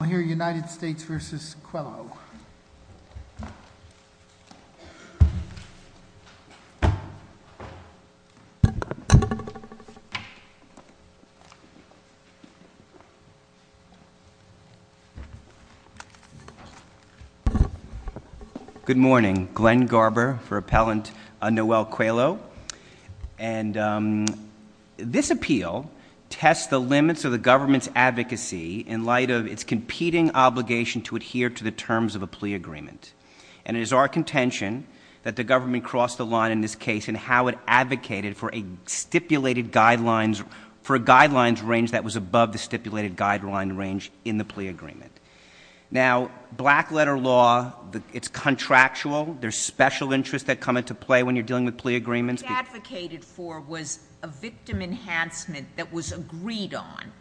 I'll hear United States v. Coelho. Good morning. Glenn Garber for Appellant Noel Coelho. And this appeal tests the limits of the government's advocacy in light of its competing obligation to adhere to the terms of a plea agreement. And it is our contention that the government crossed the line in this case in how it advocated for a stipulated guidelines, for a guidelines range that was above the stipulated guideline range in the plea agreement. Now, black letter law, it's contractual. There's special interests that come into play when you're dealing with plea agreements. What it advocated for was a victim enhancement that was agreed on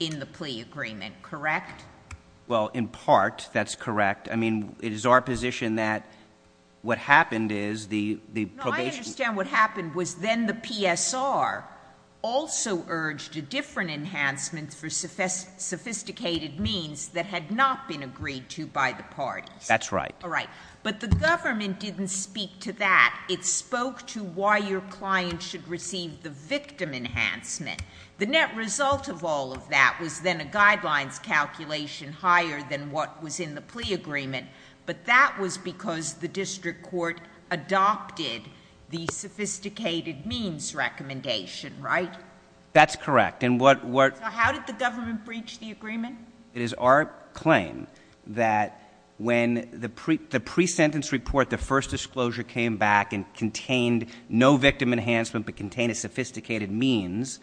in the plea agreement, correct? Well, in part that's correct. I mean, it is our position that what happened is the probation I understand what happened was then the PSR also urged a different enhancement for sophisticated means that had not been agreed to by the parties. That's right. All right. But the government didn't speak to that. It spoke to why your client should receive the victim enhancement. The net result of all of that was then a guidelines calculation higher than what was in the plea agreement. But that was because the district court adopted the sophisticated means recommendation, right? That's correct. And what So how did the government breach the agreement? It is our claim that when the pre-sentence report, the first disclosure came back and contained no victim enhancement but contained a sophisticated means,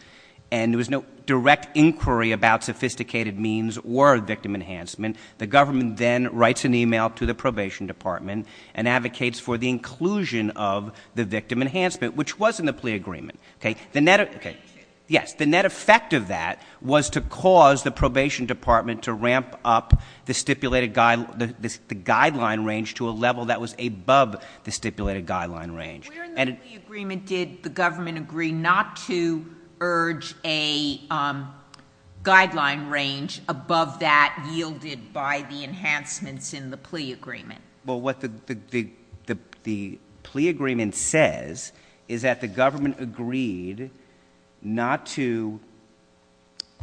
and there was no direct inquiry about sophisticated means or victim enhancement, the government then writes an e-mail to the probation department and advocates for the inclusion of the victim enhancement, which was in the plea agreement. The net effect of that was to cause the probation department to ramp up the stipulated guideline range to a level that was above the stipulated guideline range. Where in the plea agreement did the government agree not to urge a guideline range above that yielded by the enhancements in the plea agreement? Well, what the plea agreement says is that the government agreed not to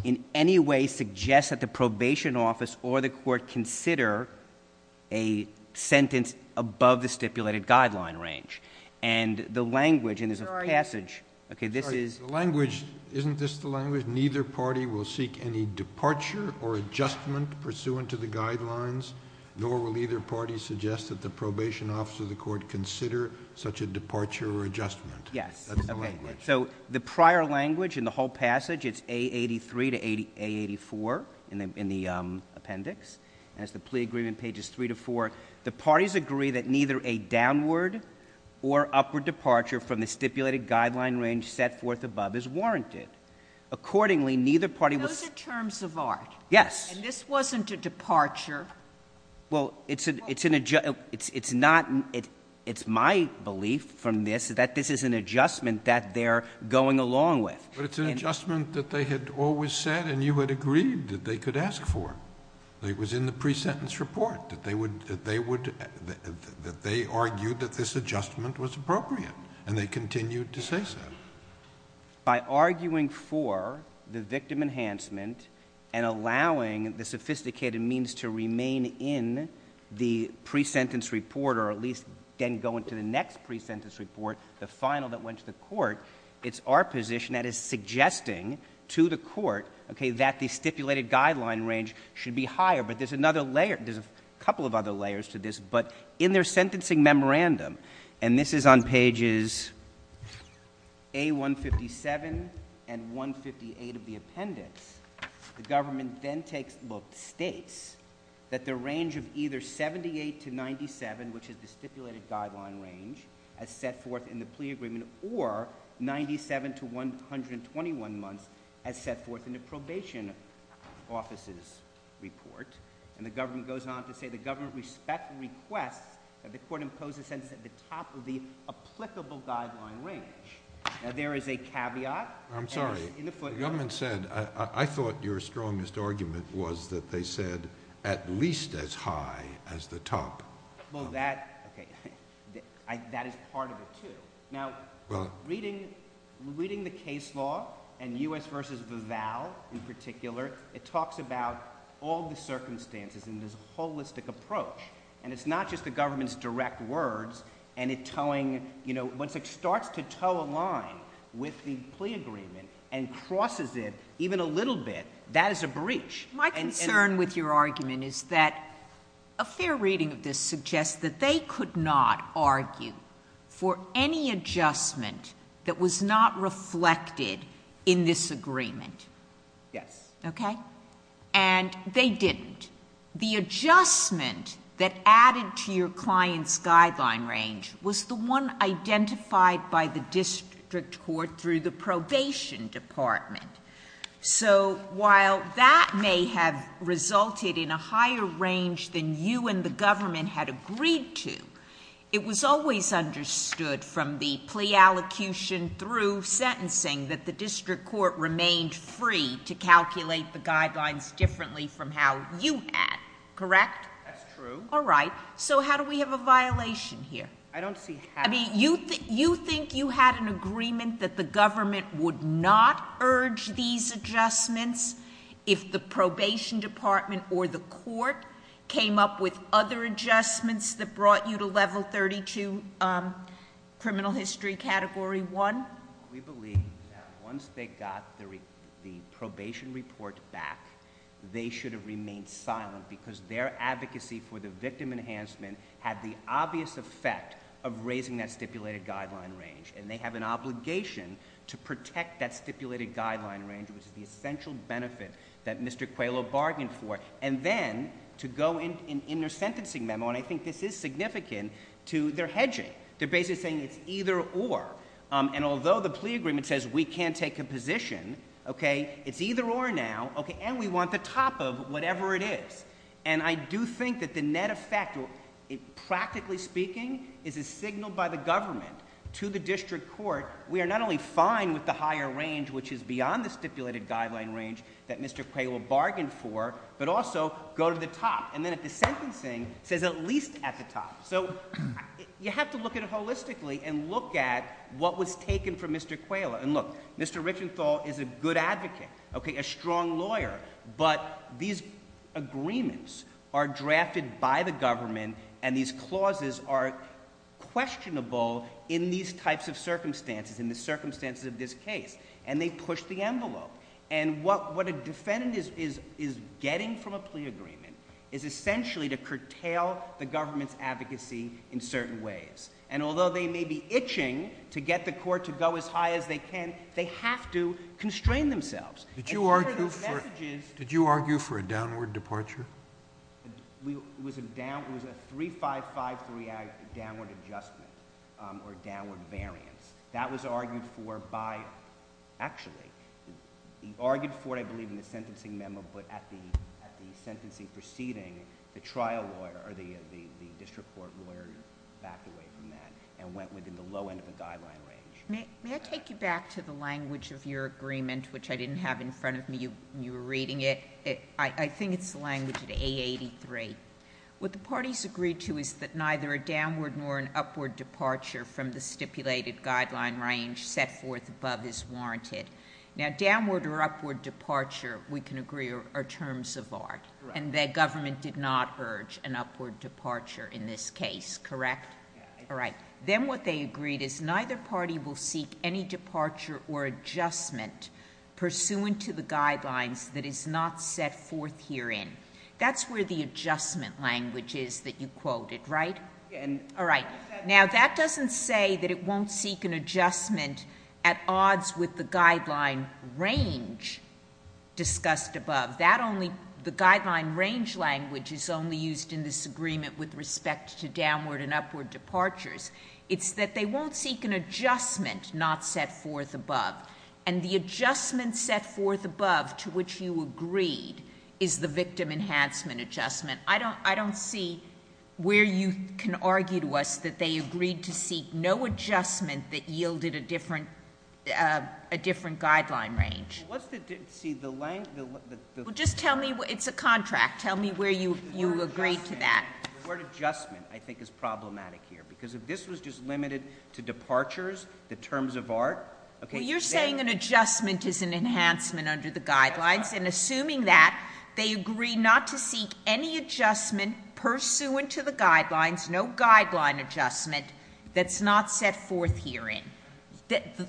in any way suggest that the probation office or the court consider a sentence above the stipulated guideline range. And the language, and there's a passage, okay, this is The language, isn't this the language, neither party will seek any departure or adjustment pursuant to the guidelines, nor will either party suggest that the probation office or the court consider such a departure or adjustment. Yes. That's the language. So the prior language in the whole passage, it's A83 to A84 in the appendix, and it's the plea agreement pages three to four. The parties agree that neither a downward or upward departure from the stipulated guideline range set forth above is warranted. Accordingly, neither party will Those are terms of art. Yes. And this wasn't a departure. Well, it's an adjustment, it's not, it's my belief from this that this is an adjustment that they're going along with. But it's an adjustment that they had always said and you had agreed that they could ask for. It was in the pre-sentence report that they would, that they would, that they argued that this adjustment was appropriate. And they continued to say so. By arguing for the victim enhancement and allowing the sophisticated means to remain in the pre-sentence report, or at least then go into the next pre-sentence report, the final that went to the court, it's our position that is suggesting to the court, okay, that the stipulated guideline range should be higher. But there's another layer, there's a couple of other layers to this. But in their sentencing memorandum, and this is on pages A157 and 158 of the appendix, the government then takes, well, states that the range of either 78 to 97, which is the stipulated guideline range as set forth in the plea agreement, or 97 to 121 months as set forth in the probation officer's report. And the government goes on to say the government respects and requests that the court impose a sentence at the top of the applicable guideline range. Now there is a caveat. I'm sorry. In the footnote. The government said, I thought your strongest argument was that they said at least as high as the top. Well, that, okay, that is part of it, too. Now, reading the case law and U.S. v. Vival in particular, it talks about all the circumstances in this holistic approach. And it's not just the government's direct words and it towing, you know, once it starts to tow a line with the plea agreement and crosses it even a little bit, that is a breach. My concern with your argument is that a fair reading of this suggests that they could not argue for any adjustment that was not reflected in this agreement. Yes. Okay? And they didn't. The adjustment that added to your client's guideline range was the one identified by the district court through the probation department. So while that may have resulted in a higher range than you and the government had agreed to, it was always understood from the plea allocution through sentencing that the district court remained free to calculate the guidelines differently from how you had. Correct? That's true. All right. So how do we have a violation here? I don't see how. I mean, you think you had an agreement that the government would not urge these adjustments if the probation department or the court came up with other adjustments that brought you to level 32 criminal history category one? We believe that once they got the probation report back, they should have remained silent because their advocacy for the victim enhancement had the obvious effect of raising that stipulated guideline range. And they have an obligation to protect that stipulated guideline range, which is the essential benefit that Mr. Quayleau bargained for, and then to go in their sentencing memo, and I think this is significant, to their hedging. They're basically saying it's either or. And although the plea agreement says we can't take a position, okay, it's either or now, and we want the top of whatever it is. And I do think that the net effect, practically speaking, is a signal by the government to the district court, we are not only fine with the higher range, which is beyond the stipulated guideline range that Mr. Quayleau bargained for, but also go to the top. And then at the sentencing, it says at least at the top. So you have to look at it holistically and look at what was taken from Mr. Quayleau. And look, Mr. Richenthal is a good advocate, okay, a strong lawyer, but these agreements are drafted by the government and these clauses are questionable in these types of circumstances, in the circumstances of this case, and they push the envelope. And what a defendant is getting from a plea agreement is essentially to curtail the government's advocacy in certain ways. And although they may be itching to get the court to go as high as they can, they have to constrain themselves. Did you argue for a downward departure? It was a 3-5-5-3 downward adjustment or downward variance. That was argued for by, actually, he argued for it, I believe, in the sentencing memo, but at the sentencing proceeding, the trial lawyer or the district court lawyer backed away from that and went within the low end of the guideline range. May I take you back to the language of your agreement, which I didn't have in front of me when you were reading it? I think it's the language at A83. What the parties agreed to is that neither a downward nor an upward departure from the stipulated guideline range set forth above is warranted. Now, downward or upward departure, we can agree, are terms of art. And the government did not urge an upward departure in this case, correct? All right. Then what they agreed is neither party will seek any departure or adjustment pursuant to the guidelines that is not set forth herein. That's where the adjustment language is that you quoted, right? All right. Now, that doesn't say that it won't seek an adjustment at odds with the guideline range discussed above. The guideline range language is only used in this agreement with respect to downward and upward departures. It's that they won't seek an adjustment not set forth above. And the adjustment set forth above to which you agreed is the victim enhancement adjustment. I don't see where you can argue to us that they agreed to seek no adjustment that yielded a different guideline range. Well, let's see. The length. Well, just tell me. It's a contract. Tell me where you agreed to that. The word adjustment, I think, is problematic here. Because if this was just limited to departures, the terms of art. Well, you're saying an adjustment is an enhancement under the guidelines, and assuming that, they agree not to seek any adjustment pursuant to the guidelines, no guideline adjustment, that's not set forth herein.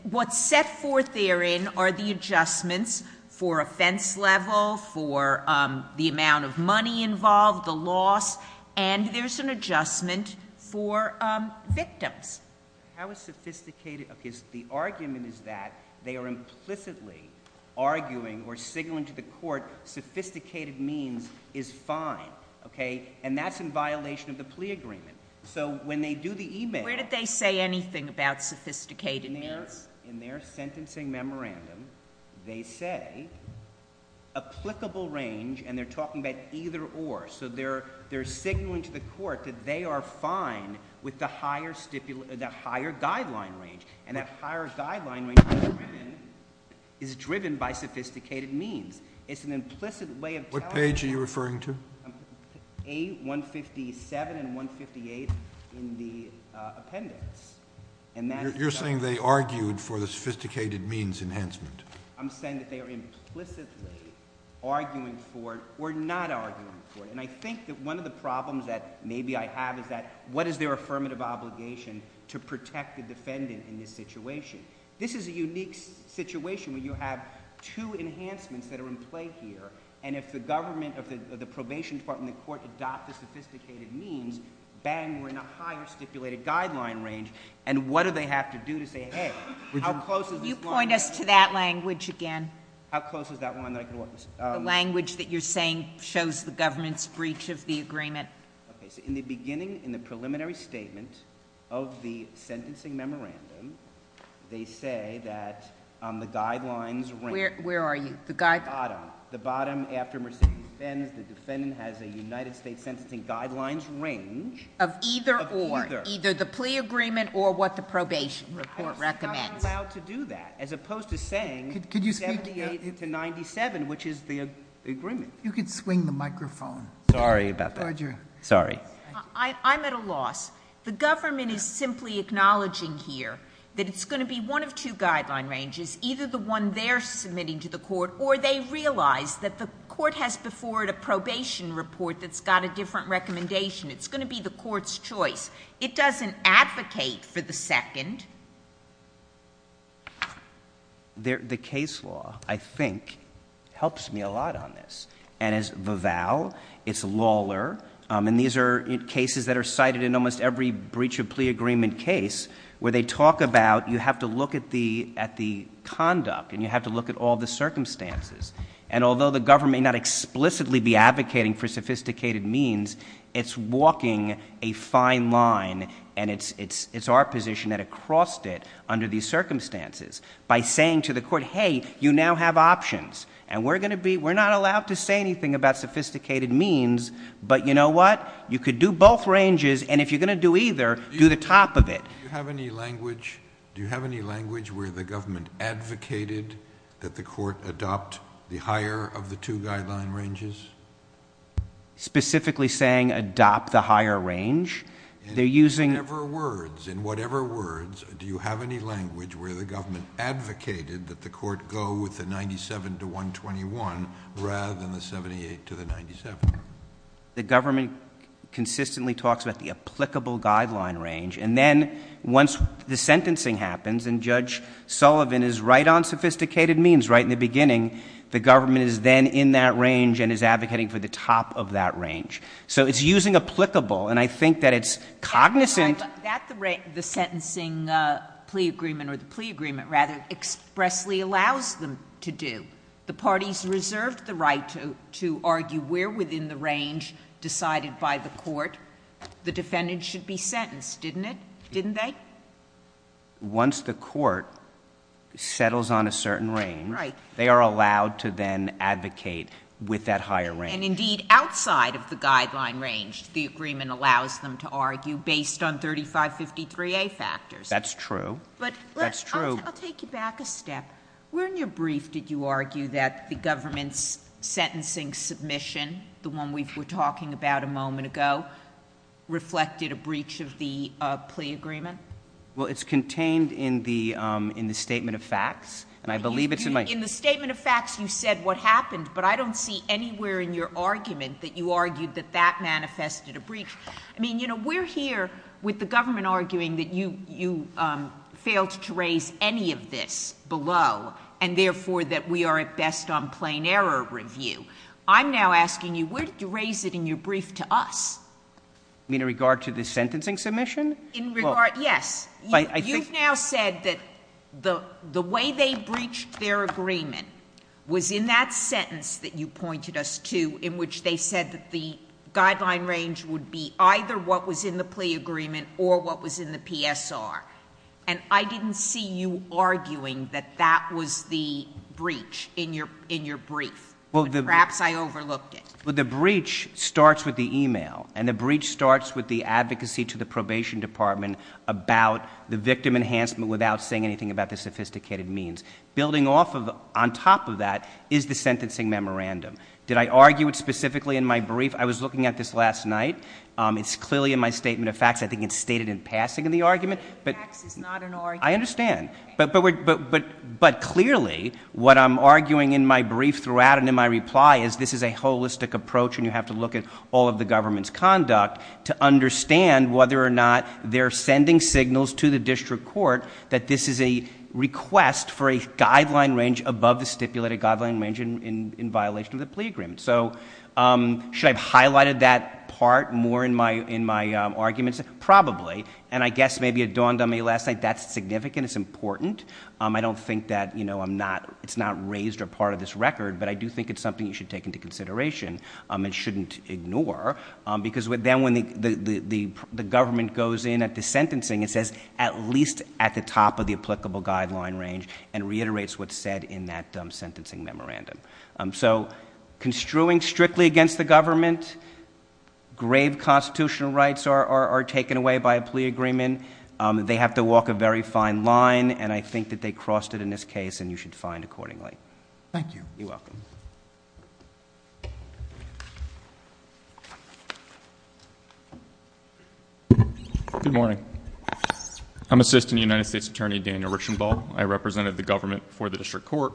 What's set forth therein are the adjustments for offense level, for the amount of money involved, the loss, and there's an adjustment for victims. How is sophisticated? The argument is that they are implicitly arguing or signaling to the court sophisticated means is fine. Okay? And that's in violation of the plea agreement. So when they do the email. Where did they say anything about sophisticated means? In their sentencing memorandum, they say applicable range, and they're talking about either or. So they're signaling to the court that they are fine with the higher guideline range. And that higher guideline range is driven by sophisticated means. It's an implicit way of telling. What page are you referring to? A157 and 158 in the appendix. You're saying they argued for the sophisticated means enhancement. I'm saying that they are implicitly arguing for it or not arguing for it. And I think that one of the problems that maybe I have is that what is their affirmative obligation to protect the defendant in this situation? This is a unique situation where you have two enhancements that are in play here. And if the government of the probation department and the court adopt the sophisticated means, bang, we're in a higher stipulated guideline range. And what do they have to do to say, hey, how close is this line? Could you point us to that language again? How close is that line that I can watch? The language that you're saying shows the government's breach of the agreement. Okay. So in the beginning, in the preliminary statement of the sentencing memorandum, they say that the guidelines range. Where are you? The bottom. The bottom after Mercedes-Benz, the defendant has a United States sentencing guidelines range. Of either or. Of either. Either the plea agreement or what the probation report recommends. You're not allowed to do that, as opposed to saying 78 to 97, which is the agreement. You could swing the microphone. Sorry about that. Roger. Sorry. I'm at a loss. The government is simply acknowledging here that it's going to be one of two guideline ranges. Either the one they're submitting to the court, or they realize that the court has before it a probation report that's got a different recommendation. It's going to be the court's choice. It doesn't advocate for the second. The case law, I think, helps me a lot on this. And as Vival, it's Lawler. And these are cases that are cited in almost every breach of plea agreement case where they talk about you have to look at the conduct. And you have to look at all the circumstances. And although the government may not explicitly be advocating for sophisticated means, it's walking a fine line. And it's our position that it crossed it under these circumstances by saying to the court, hey, you now have options. And we're going to be, we're not allowed to say anything about sophisticated means. But you know what? You could do both ranges. And if you're going to do either, do the top of it. Do you have any language where the government advocated that the court adopt the higher of the two guideline ranges? Specifically saying adopt the higher range? In whatever words, do you have any language where the government advocated that the court go with the 97 to 121 rather than the 78 to the 97? The government consistently talks about the applicable guideline range. And then once the sentencing happens and Judge Sullivan is right on sophisticated means right in the beginning, the government is then in that range and is advocating for the top of that range. So it's using applicable. And I think that it's cognizant. At the rate, the sentencing plea agreement or the plea agreement rather expressly allows them to do. The parties reserved the right to argue where within the range decided by the court the defendant should be sentenced, didn't it? Didn't they? Once the court settles on a certain range, they are allowed to then advocate with that higher range. And indeed, outside of the guideline range, the agreement allows them to argue based on 3553A factors. That's true. That's true. I'll take you back a step. Where in your brief did you argue that the government's sentencing submission, the one we were talking about a moment ago, reflected a breach of the plea agreement? Well, it's contained in the statement of facts. And I believe it's in my- In the statement of facts, you said what happened. But I don't see anywhere in your argument that you argued that that manifested a breach. I mean, you know, we're here with the government arguing that you failed to raise any of this below, and therefore that we are at best on plain error review. I'm now asking you, where did you raise it in your brief to us? You mean in regard to the sentencing submission? In regard, yes. You've now said that the way they breached their agreement was in that sentence that you pointed us to in which they said that the guideline range would be either what was in the plea agreement or what was in the PSR. And I didn't see you arguing that that was the breach in your brief. Perhaps I overlooked it. Well, the breach starts with the e-mail, and the breach starts with the advocacy to the probation department about the victim enhancement without saying anything about the sophisticated means. Building off of, on top of that, is the sentencing memorandum. Did I argue it specifically in my brief? I was looking at this last night. It's clearly in my statement of facts. I think it's stated in passing in the argument. But facts is not an argument. I understand. But clearly what I'm arguing in my brief throughout and in my reply is this is a holistic approach, and you have to look at all of the government's conduct to understand whether or not they're sending signals to the district court that this is a request for a guideline range above the stipulated guideline range in violation of the plea agreement. So should I have highlighted that part more in my arguments? Probably. And I guess maybe it dawned on me last night that's significant, it's important. I don't think that it's not raised or part of this record, but I do think it's something you should take into consideration and shouldn't ignore, because then when the government goes in at the sentencing, it says at least at the top of the applicable guideline range and reiterates what's said in that sentencing memorandum. So construing strictly against the government, grave constitutional rights are taken away by a plea agreement. They have to walk a very fine line, and I think that they crossed it in this case, and you should find accordingly. Thank you. You're welcome. Good morning. I'm Assistant United States Attorney Daniel Richenbaugh. I represented the government for the district court.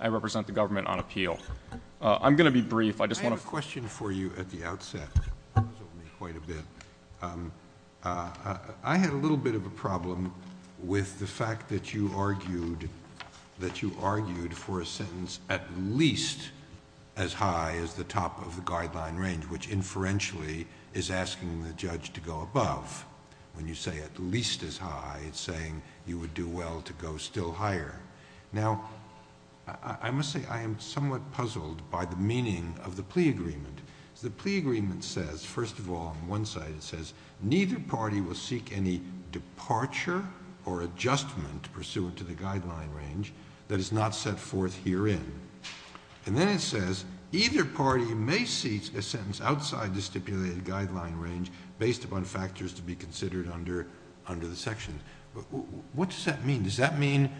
I represent the government on appeal. I'm going to be brief. I just want to... I have a question for you at the outset. I had a little bit of a problem with the fact that you argued for a sentence at least as high as the top of the guideline range, which inferentially is asking the judge to go above. When you say at least as high, it's saying you would do well to go still higher. Now, I must say I am somewhat puzzled by the meaning of the plea agreement. The plea agreement says, first of all, on one side it says, neither party will seek any departure or adjustment pursuant to the guideline range that is not set forth herein. Then it says, either party may seek a sentence outside the stipulated guideline range based upon factors to be considered under the section. What does that mean? Does that mean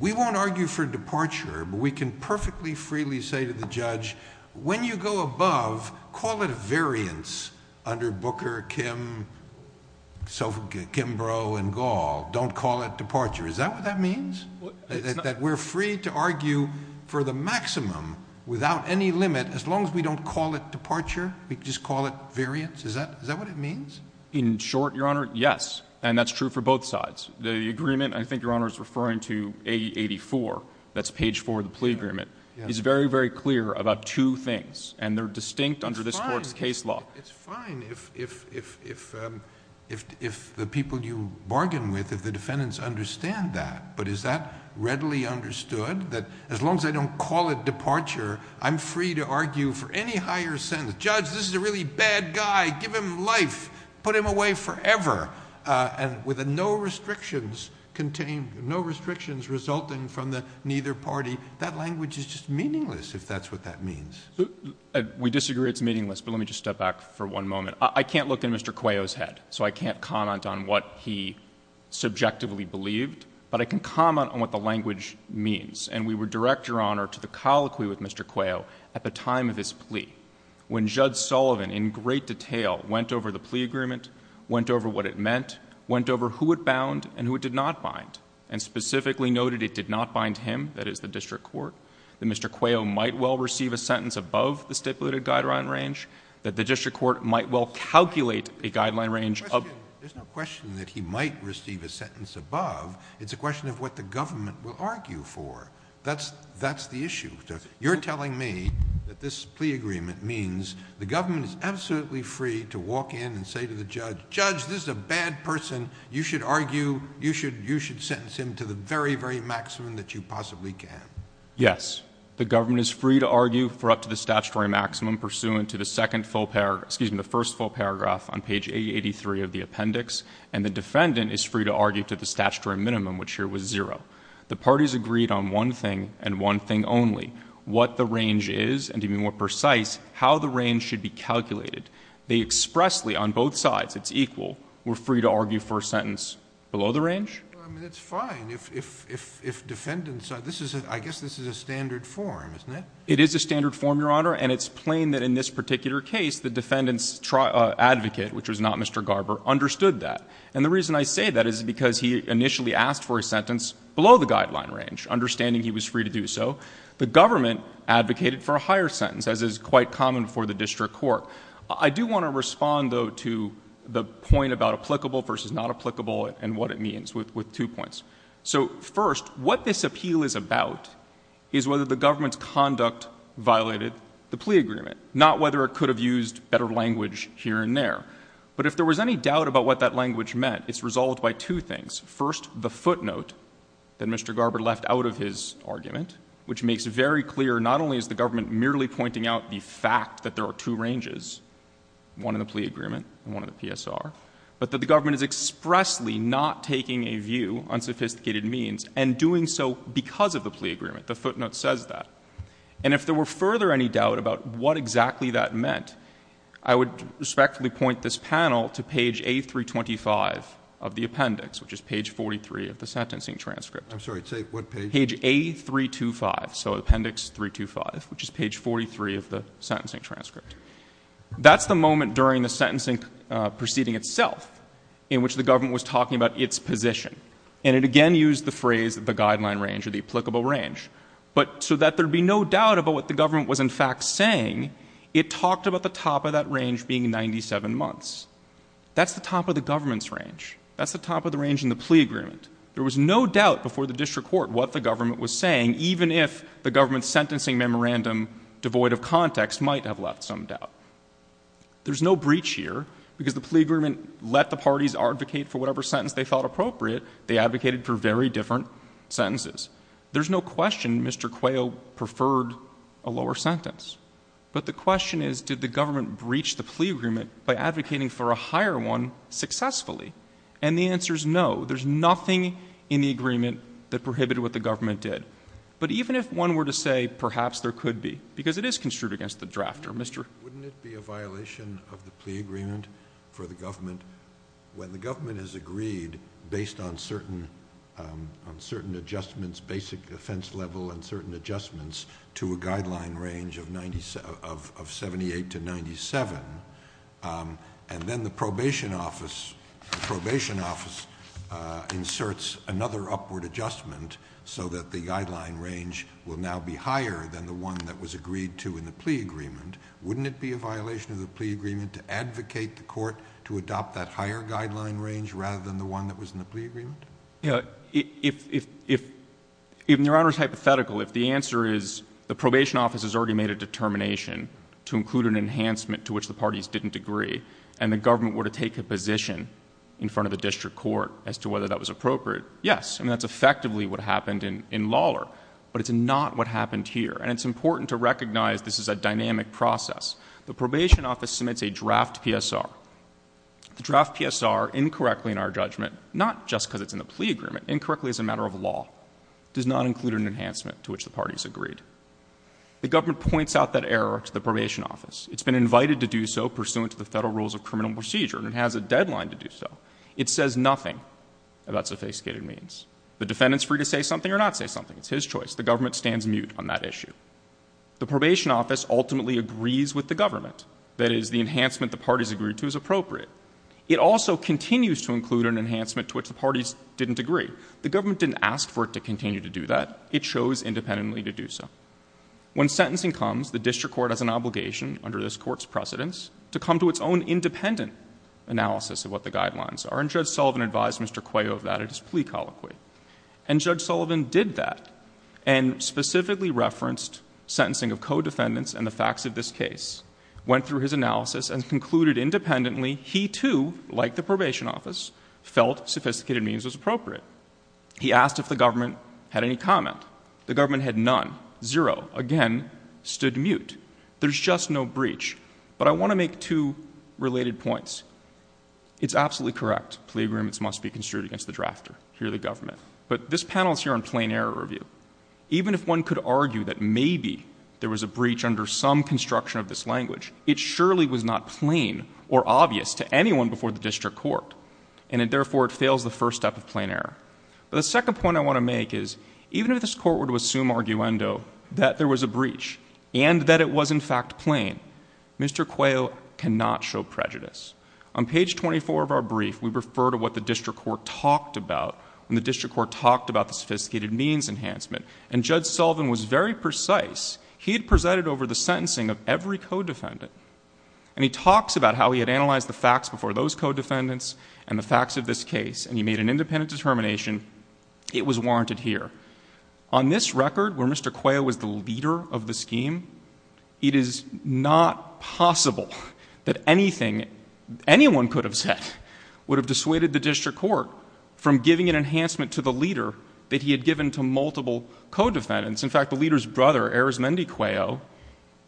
we won't argue for departure, but we can perfectly freely say to the judge, when you go above, call it a variance under Booker, Kimbrough, and Gall. Don't call it departure. Is that what that means? That we're free to argue for the maximum without any limit as long as we don't call it departure? We can just call it variance? Is that what it means? In short, Your Honor, yes. And that's true for both sides. The agreement, I think Your Honor is referring to A84, that's page 4 of the plea agreement, is very, very clear about two things. And they're distinct under this Court's case law. It's fine if the people you bargain with, if the defendants, understand that. But is that readily understood, that as long as I don't call it departure, I'm free to argue for any higher sentence? Judge, this is a really bad guy. Give him life. Put him away forever. And with no restrictions resulting from the neither party, that language is just meaningless, if that's what that means. We disagree it's meaningless, but let me just step back for one moment. I can't look in Mr. Cuello's head, so I can't comment on what he subjectively believed. But I can comment on what the language means. And we would direct, Your Honor, to the colloquy with Mr. Cuello at the time of his plea, when Judge Sullivan in great detail went over the plea agreement, went over what it meant, went over who it bound and who it did not bind, and specifically noted it did not bind him, that is the district court, that Mr. Cuello might well receive a sentence above the stipulated guideline range, that the district court might well calculate a guideline range. There's no question that he might receive a sentence above. It's a question of what the government will argue for. That's the issue. You're telling me that this plea agreement means the government is absolutely free to walk in and say to the judge, Judge, this is a bad person. You should argue. You should sentence him to the very, very maximum that you possibly can. Yes. The government is free to argue for up to the statutory maximum pursuant to the second full paragraph, excuse me, the first full paragraph on page 883 of the appendix, and the defendant is free to argue to the statutory minimum, which here was zero. The parties agreed on one thing and one thing only, what the range is and, to be more precise, how the range should be calculated. They expressly, on both sides, it's equal, were free to argue for a sentence below the range? It's fine. If defendants, I guess this is a standard form, isn't it? It is a standard form, Your Honor, and it's plain that in this particular case, the defendant's advocate, which was not Mr. Garber, understood that. And the reason I say that is because he initially asked for a sentence below the guideline range, understanding he was free to do so. The government advocated for a higher sentence, as is quite common for the district court. I do want to respond, though, to the point about applicable versus not applicable and what it means with two points. So, first, what this appeal is about is whether the government's conduct violated the plea agreement, not whether it could have used better language here and there. But if there was any doubt about what that language meant, it's resolved by two things. First, the footnote that Mr. Garber left out of his argument, which makes very clear not only is the government merely pointing out the fact that there are two ranges, one in the plea agreement and one in the PSR, but that the government is expressly not taking a view on sophisticated means and doing so because of the plea agreement. The footnote says that. And if there were further any doubt about what exactly that meant, I would respectfully point this panel to page A325 of the appendix, which is page 43 of the sentencing transcript. I'm sorry. What page? Page A325, so appendix 325, which is page 43 of the sentencing transcript. That's the moment during the sentencing proceeding itself in which the government was talking about its position. And it again used the phrase the guideline range or the applicable range. But so that there would be no doubt about what the government was, in fact, saying, it talked about the top of that range being 97 months. That's the top of the government's range. That's the top of the range in the plea agreement. There was no doubt before the district court what the government was saying, even if the government's sentencing memorandum, devoid of context, might have left some doubt. There's no breach here because the plea agreement let the parties advocate for whatever sentence they thought appropriate. They advocated for very different sentences. There's no question Mr. Quayle preferred a lower sentence. But the question is did the government breach the plea agreement by advocating for a higher one successfully? And the answer is no. There's nothing in the agreement that prohibited what the government did. But even if one were to say perhaps there could be, because it is construed against the drafter, Mr.... Wouldn't it be a violation of the plea agreement for the government when the government has agreed based on certain adjustments, basic defense level and certain adjustments to a guideline range of 78 to 97, and then the probation office inserts another upward adjustment so that the guideline range will now be higher than the one that was agreed to in the plea agreement? Wouldn't it be a violation of the plea agreement to advocate the court to adopt that higher guideline range rather than the one that was in the plea agreement? Yeah. If... In Your Honor's hypothetical, if the answer is the probation office has already made a determination to include an enhancement to which the parties didn't agree and the government were to take a position in front of the district court as to whether that was appropriate, yes. And that's effectively what happened in Lawler. But it's not what happened here. And it's important to recognize this is a dynamic process. The probation office submits a draft PSR. The draft PSR, incorrectly in our judgment, not just because it's in the plea agreement, incorrectly as a matter of law, does not include an enhancement to which the parties agreed. The government points out that error to the probation office. It's been invited to do so pursuant to the federal rules of criminal procedure and has a deadline to do so. It says nothing about sophisticated means. The defendant's free to say something or not say something. It's his choice. The government stands mute on that issue. The probation office ultimately agrees with the government. That is, the enhancement the parties agreed to is appropriate. It also continues to include an enhancement to which the parties didn't agree. The government didn't ask for it to continue to do that. It chose independently to do so. When sentencing comes, the district court has an obligation, under this court's precedence, to come to its own independent analysis of what the guidelines are. And Judge Sullivan advised Mr. Cuello of that at his plea colloquy. And Judge Sullivan did that and specifically referenced sentencing of co-defendants and the facts of this case, went through his analysis, and concluded independently he too, like the probation office, felt sophisticated means was appropriate. He asked if the government had any comment. The government had none, zero, again stood mute. There's just no breach. But I want to make two related points. Plea agreements must be construed against the drafter. Here are the government. But this panel is here on plain error review. Even if one could argue that maybe there was a breach under some construction of this language, it surely was not plain or obvious to anyone before the district court. And therefore, it fails the first step of plain error. But the second point I want to make is, even if this court were to assume arguendo that there was a breach and that it was in fact plain, Mr. Cuello cannot show prejudice. On page 24 of our brief, we refer to what the district court talked about when the district court talked about the sophisticated means enhancement. And Judge Sullivan was very precise. He had presented over the sentencing of every co-defendant. And he talks about how he had analyzed the facts before those co-defendants and the facts of this case, and he made an independent determination. It was warranted here. On this record, where Mr. Cuello was the leader of the scheme, it is not possible that anything anyone could have said would have dissuaded the district court from giving an enhancement to the leader that he had given to multiple co-defendants. In fact, the leader's brother, Erezmendi Cuello,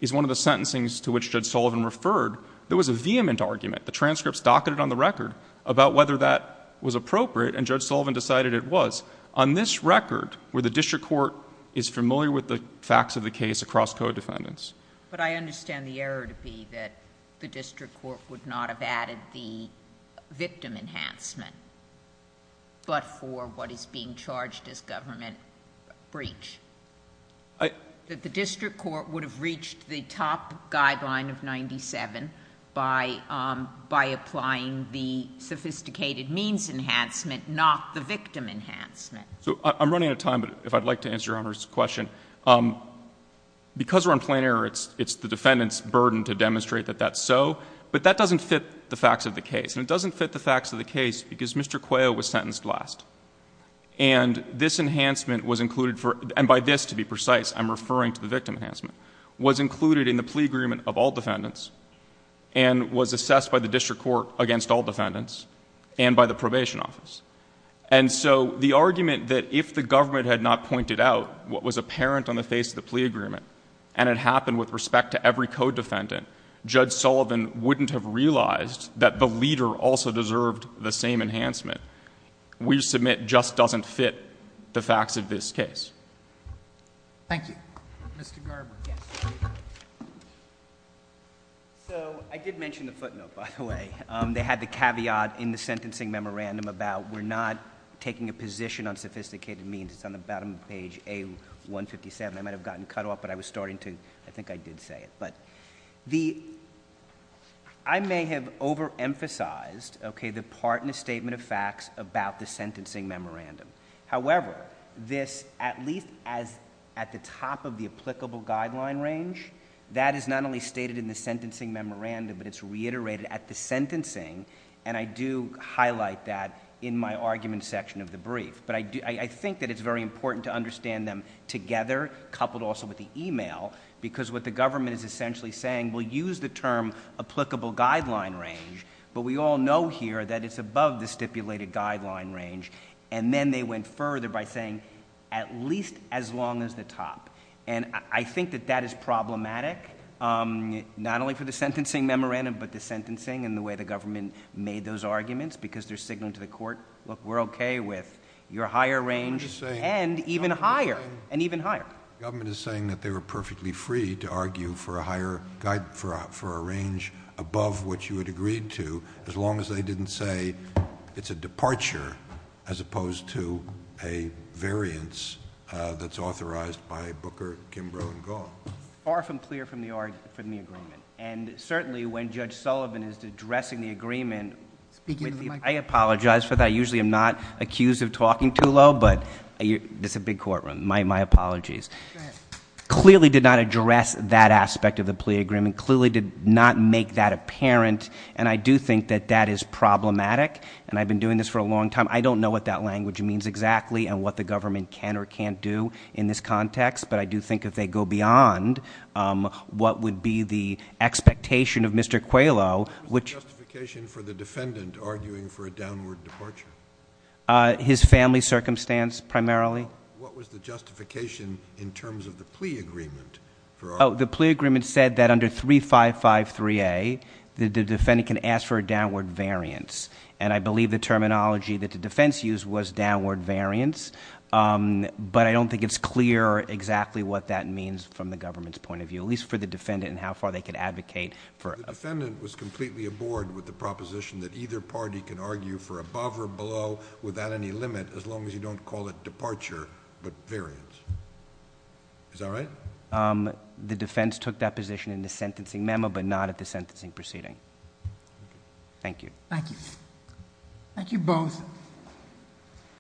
is one of the sentencings to which Judge Sullivan referred. There was a vehement argument. The transcripts docketed on the record about whether that was appropriate, and Judge Sullivan decided it was. On this record, where the district court is familiar with the facts of the case across co-defendants... But I understand the error to be that the district court would not have added the victim enhancement, but for what is being charged as government breach. The district court would have reached the top guideline of 97 by applying the sophisticated means enhancement, not the victim enhancement. So I'm running out of time, but if I'd like to answer Your Honor's question. Because we're on plain error, it's the defendant's burden to demonstrate that that's so. But that doesn't fit the facts of the case. And it doesn't fit the facts of the case because Mr. Cuello was sentenced last. And this enhancement was included for... And by this, to be precise, I'm referring to the victim enhancement. This enhancement was included in the plea agreement of all defendants and was assessed by the district court against all defendants and by the probation office. And so the argument that if the government had not pointed out what was apparent on the face of the plea agreement and it happened with respect to every co-defendant, Judge Sullivan wouldn't have realized that the leader also deserved the same enhancement, we submit just doesn't fit the facts of this case. Thank you. Mr. Garber. Yes. So I did mention the footnote, by the way. They had the caveat in the sentencing memorandum about we're not taking a position on sophisticated means. It's on the bottom of page A-157. I might have gotten cut off, but I was starting to... I think I did say it. But I may have overemphasized, okay, the part in the statement of facts about the sentencing memorandum. However, this, at least at the top of the applicable guideline range, that is not only stated in the sentencing memorandum, but it's reiterated at the sentencing, and I do highlight that in my argument section of the brief. But I think that it's very important to understand them together, coupled also with the e-mail, because what the government is essentially saying, we'll use the term applicable guideline range, but we all know here that it's above the stipulated guideline range, and then they went further by saying at least as long as the top. And I think that that is problematic, not only for the sentencing memorandum, but the sentencing and the way the government made those arguments because they're signaling to the court, look, we're okay with your higher range and even higher, and even higher. The government is saying that they were perfectly free to argue for a range above what you had agreed to as long as they didn't say it's a departure as opposed to a variance that's authorized by Booker, Kimbrough, and Gaul. Far from clear from the agreement. And certainly when Judge Sullivan is addressing the agreement, I apologize for that. I usually am not accused of talking too low, but this is a big courtroom. My apologies. Clearly did not address that aspect of the plea agreement. Clearly did not make that apparent. And I do think that that is problematic, and I've been doing this for a long time. I don't know what that language means exactly and what the government can or can't do in this context, but I do think if they go beyond what would be the expectation of Mr. Qualo. What was the justification for the defendant arguing for a downward departure? His family circumstance primarily. What was the justification in terms of the plea agreement? The plea agreement said that under 3553A, the defendant can ask for a downward variance, and I believe the terminology that the defense used was downward variance, but I don't think it's clear exactly what that means from the government's point of view, at least for the defendant and how far they could advocate for it. The defendant was completely aboard with the proposition that either party can argue for above or below without any limit as long as you don't call it departure but variance. Is that right? The defense took that position in the sentencing memo but not at the sentencing proceeding. Thank you. Thank you. Thank you both.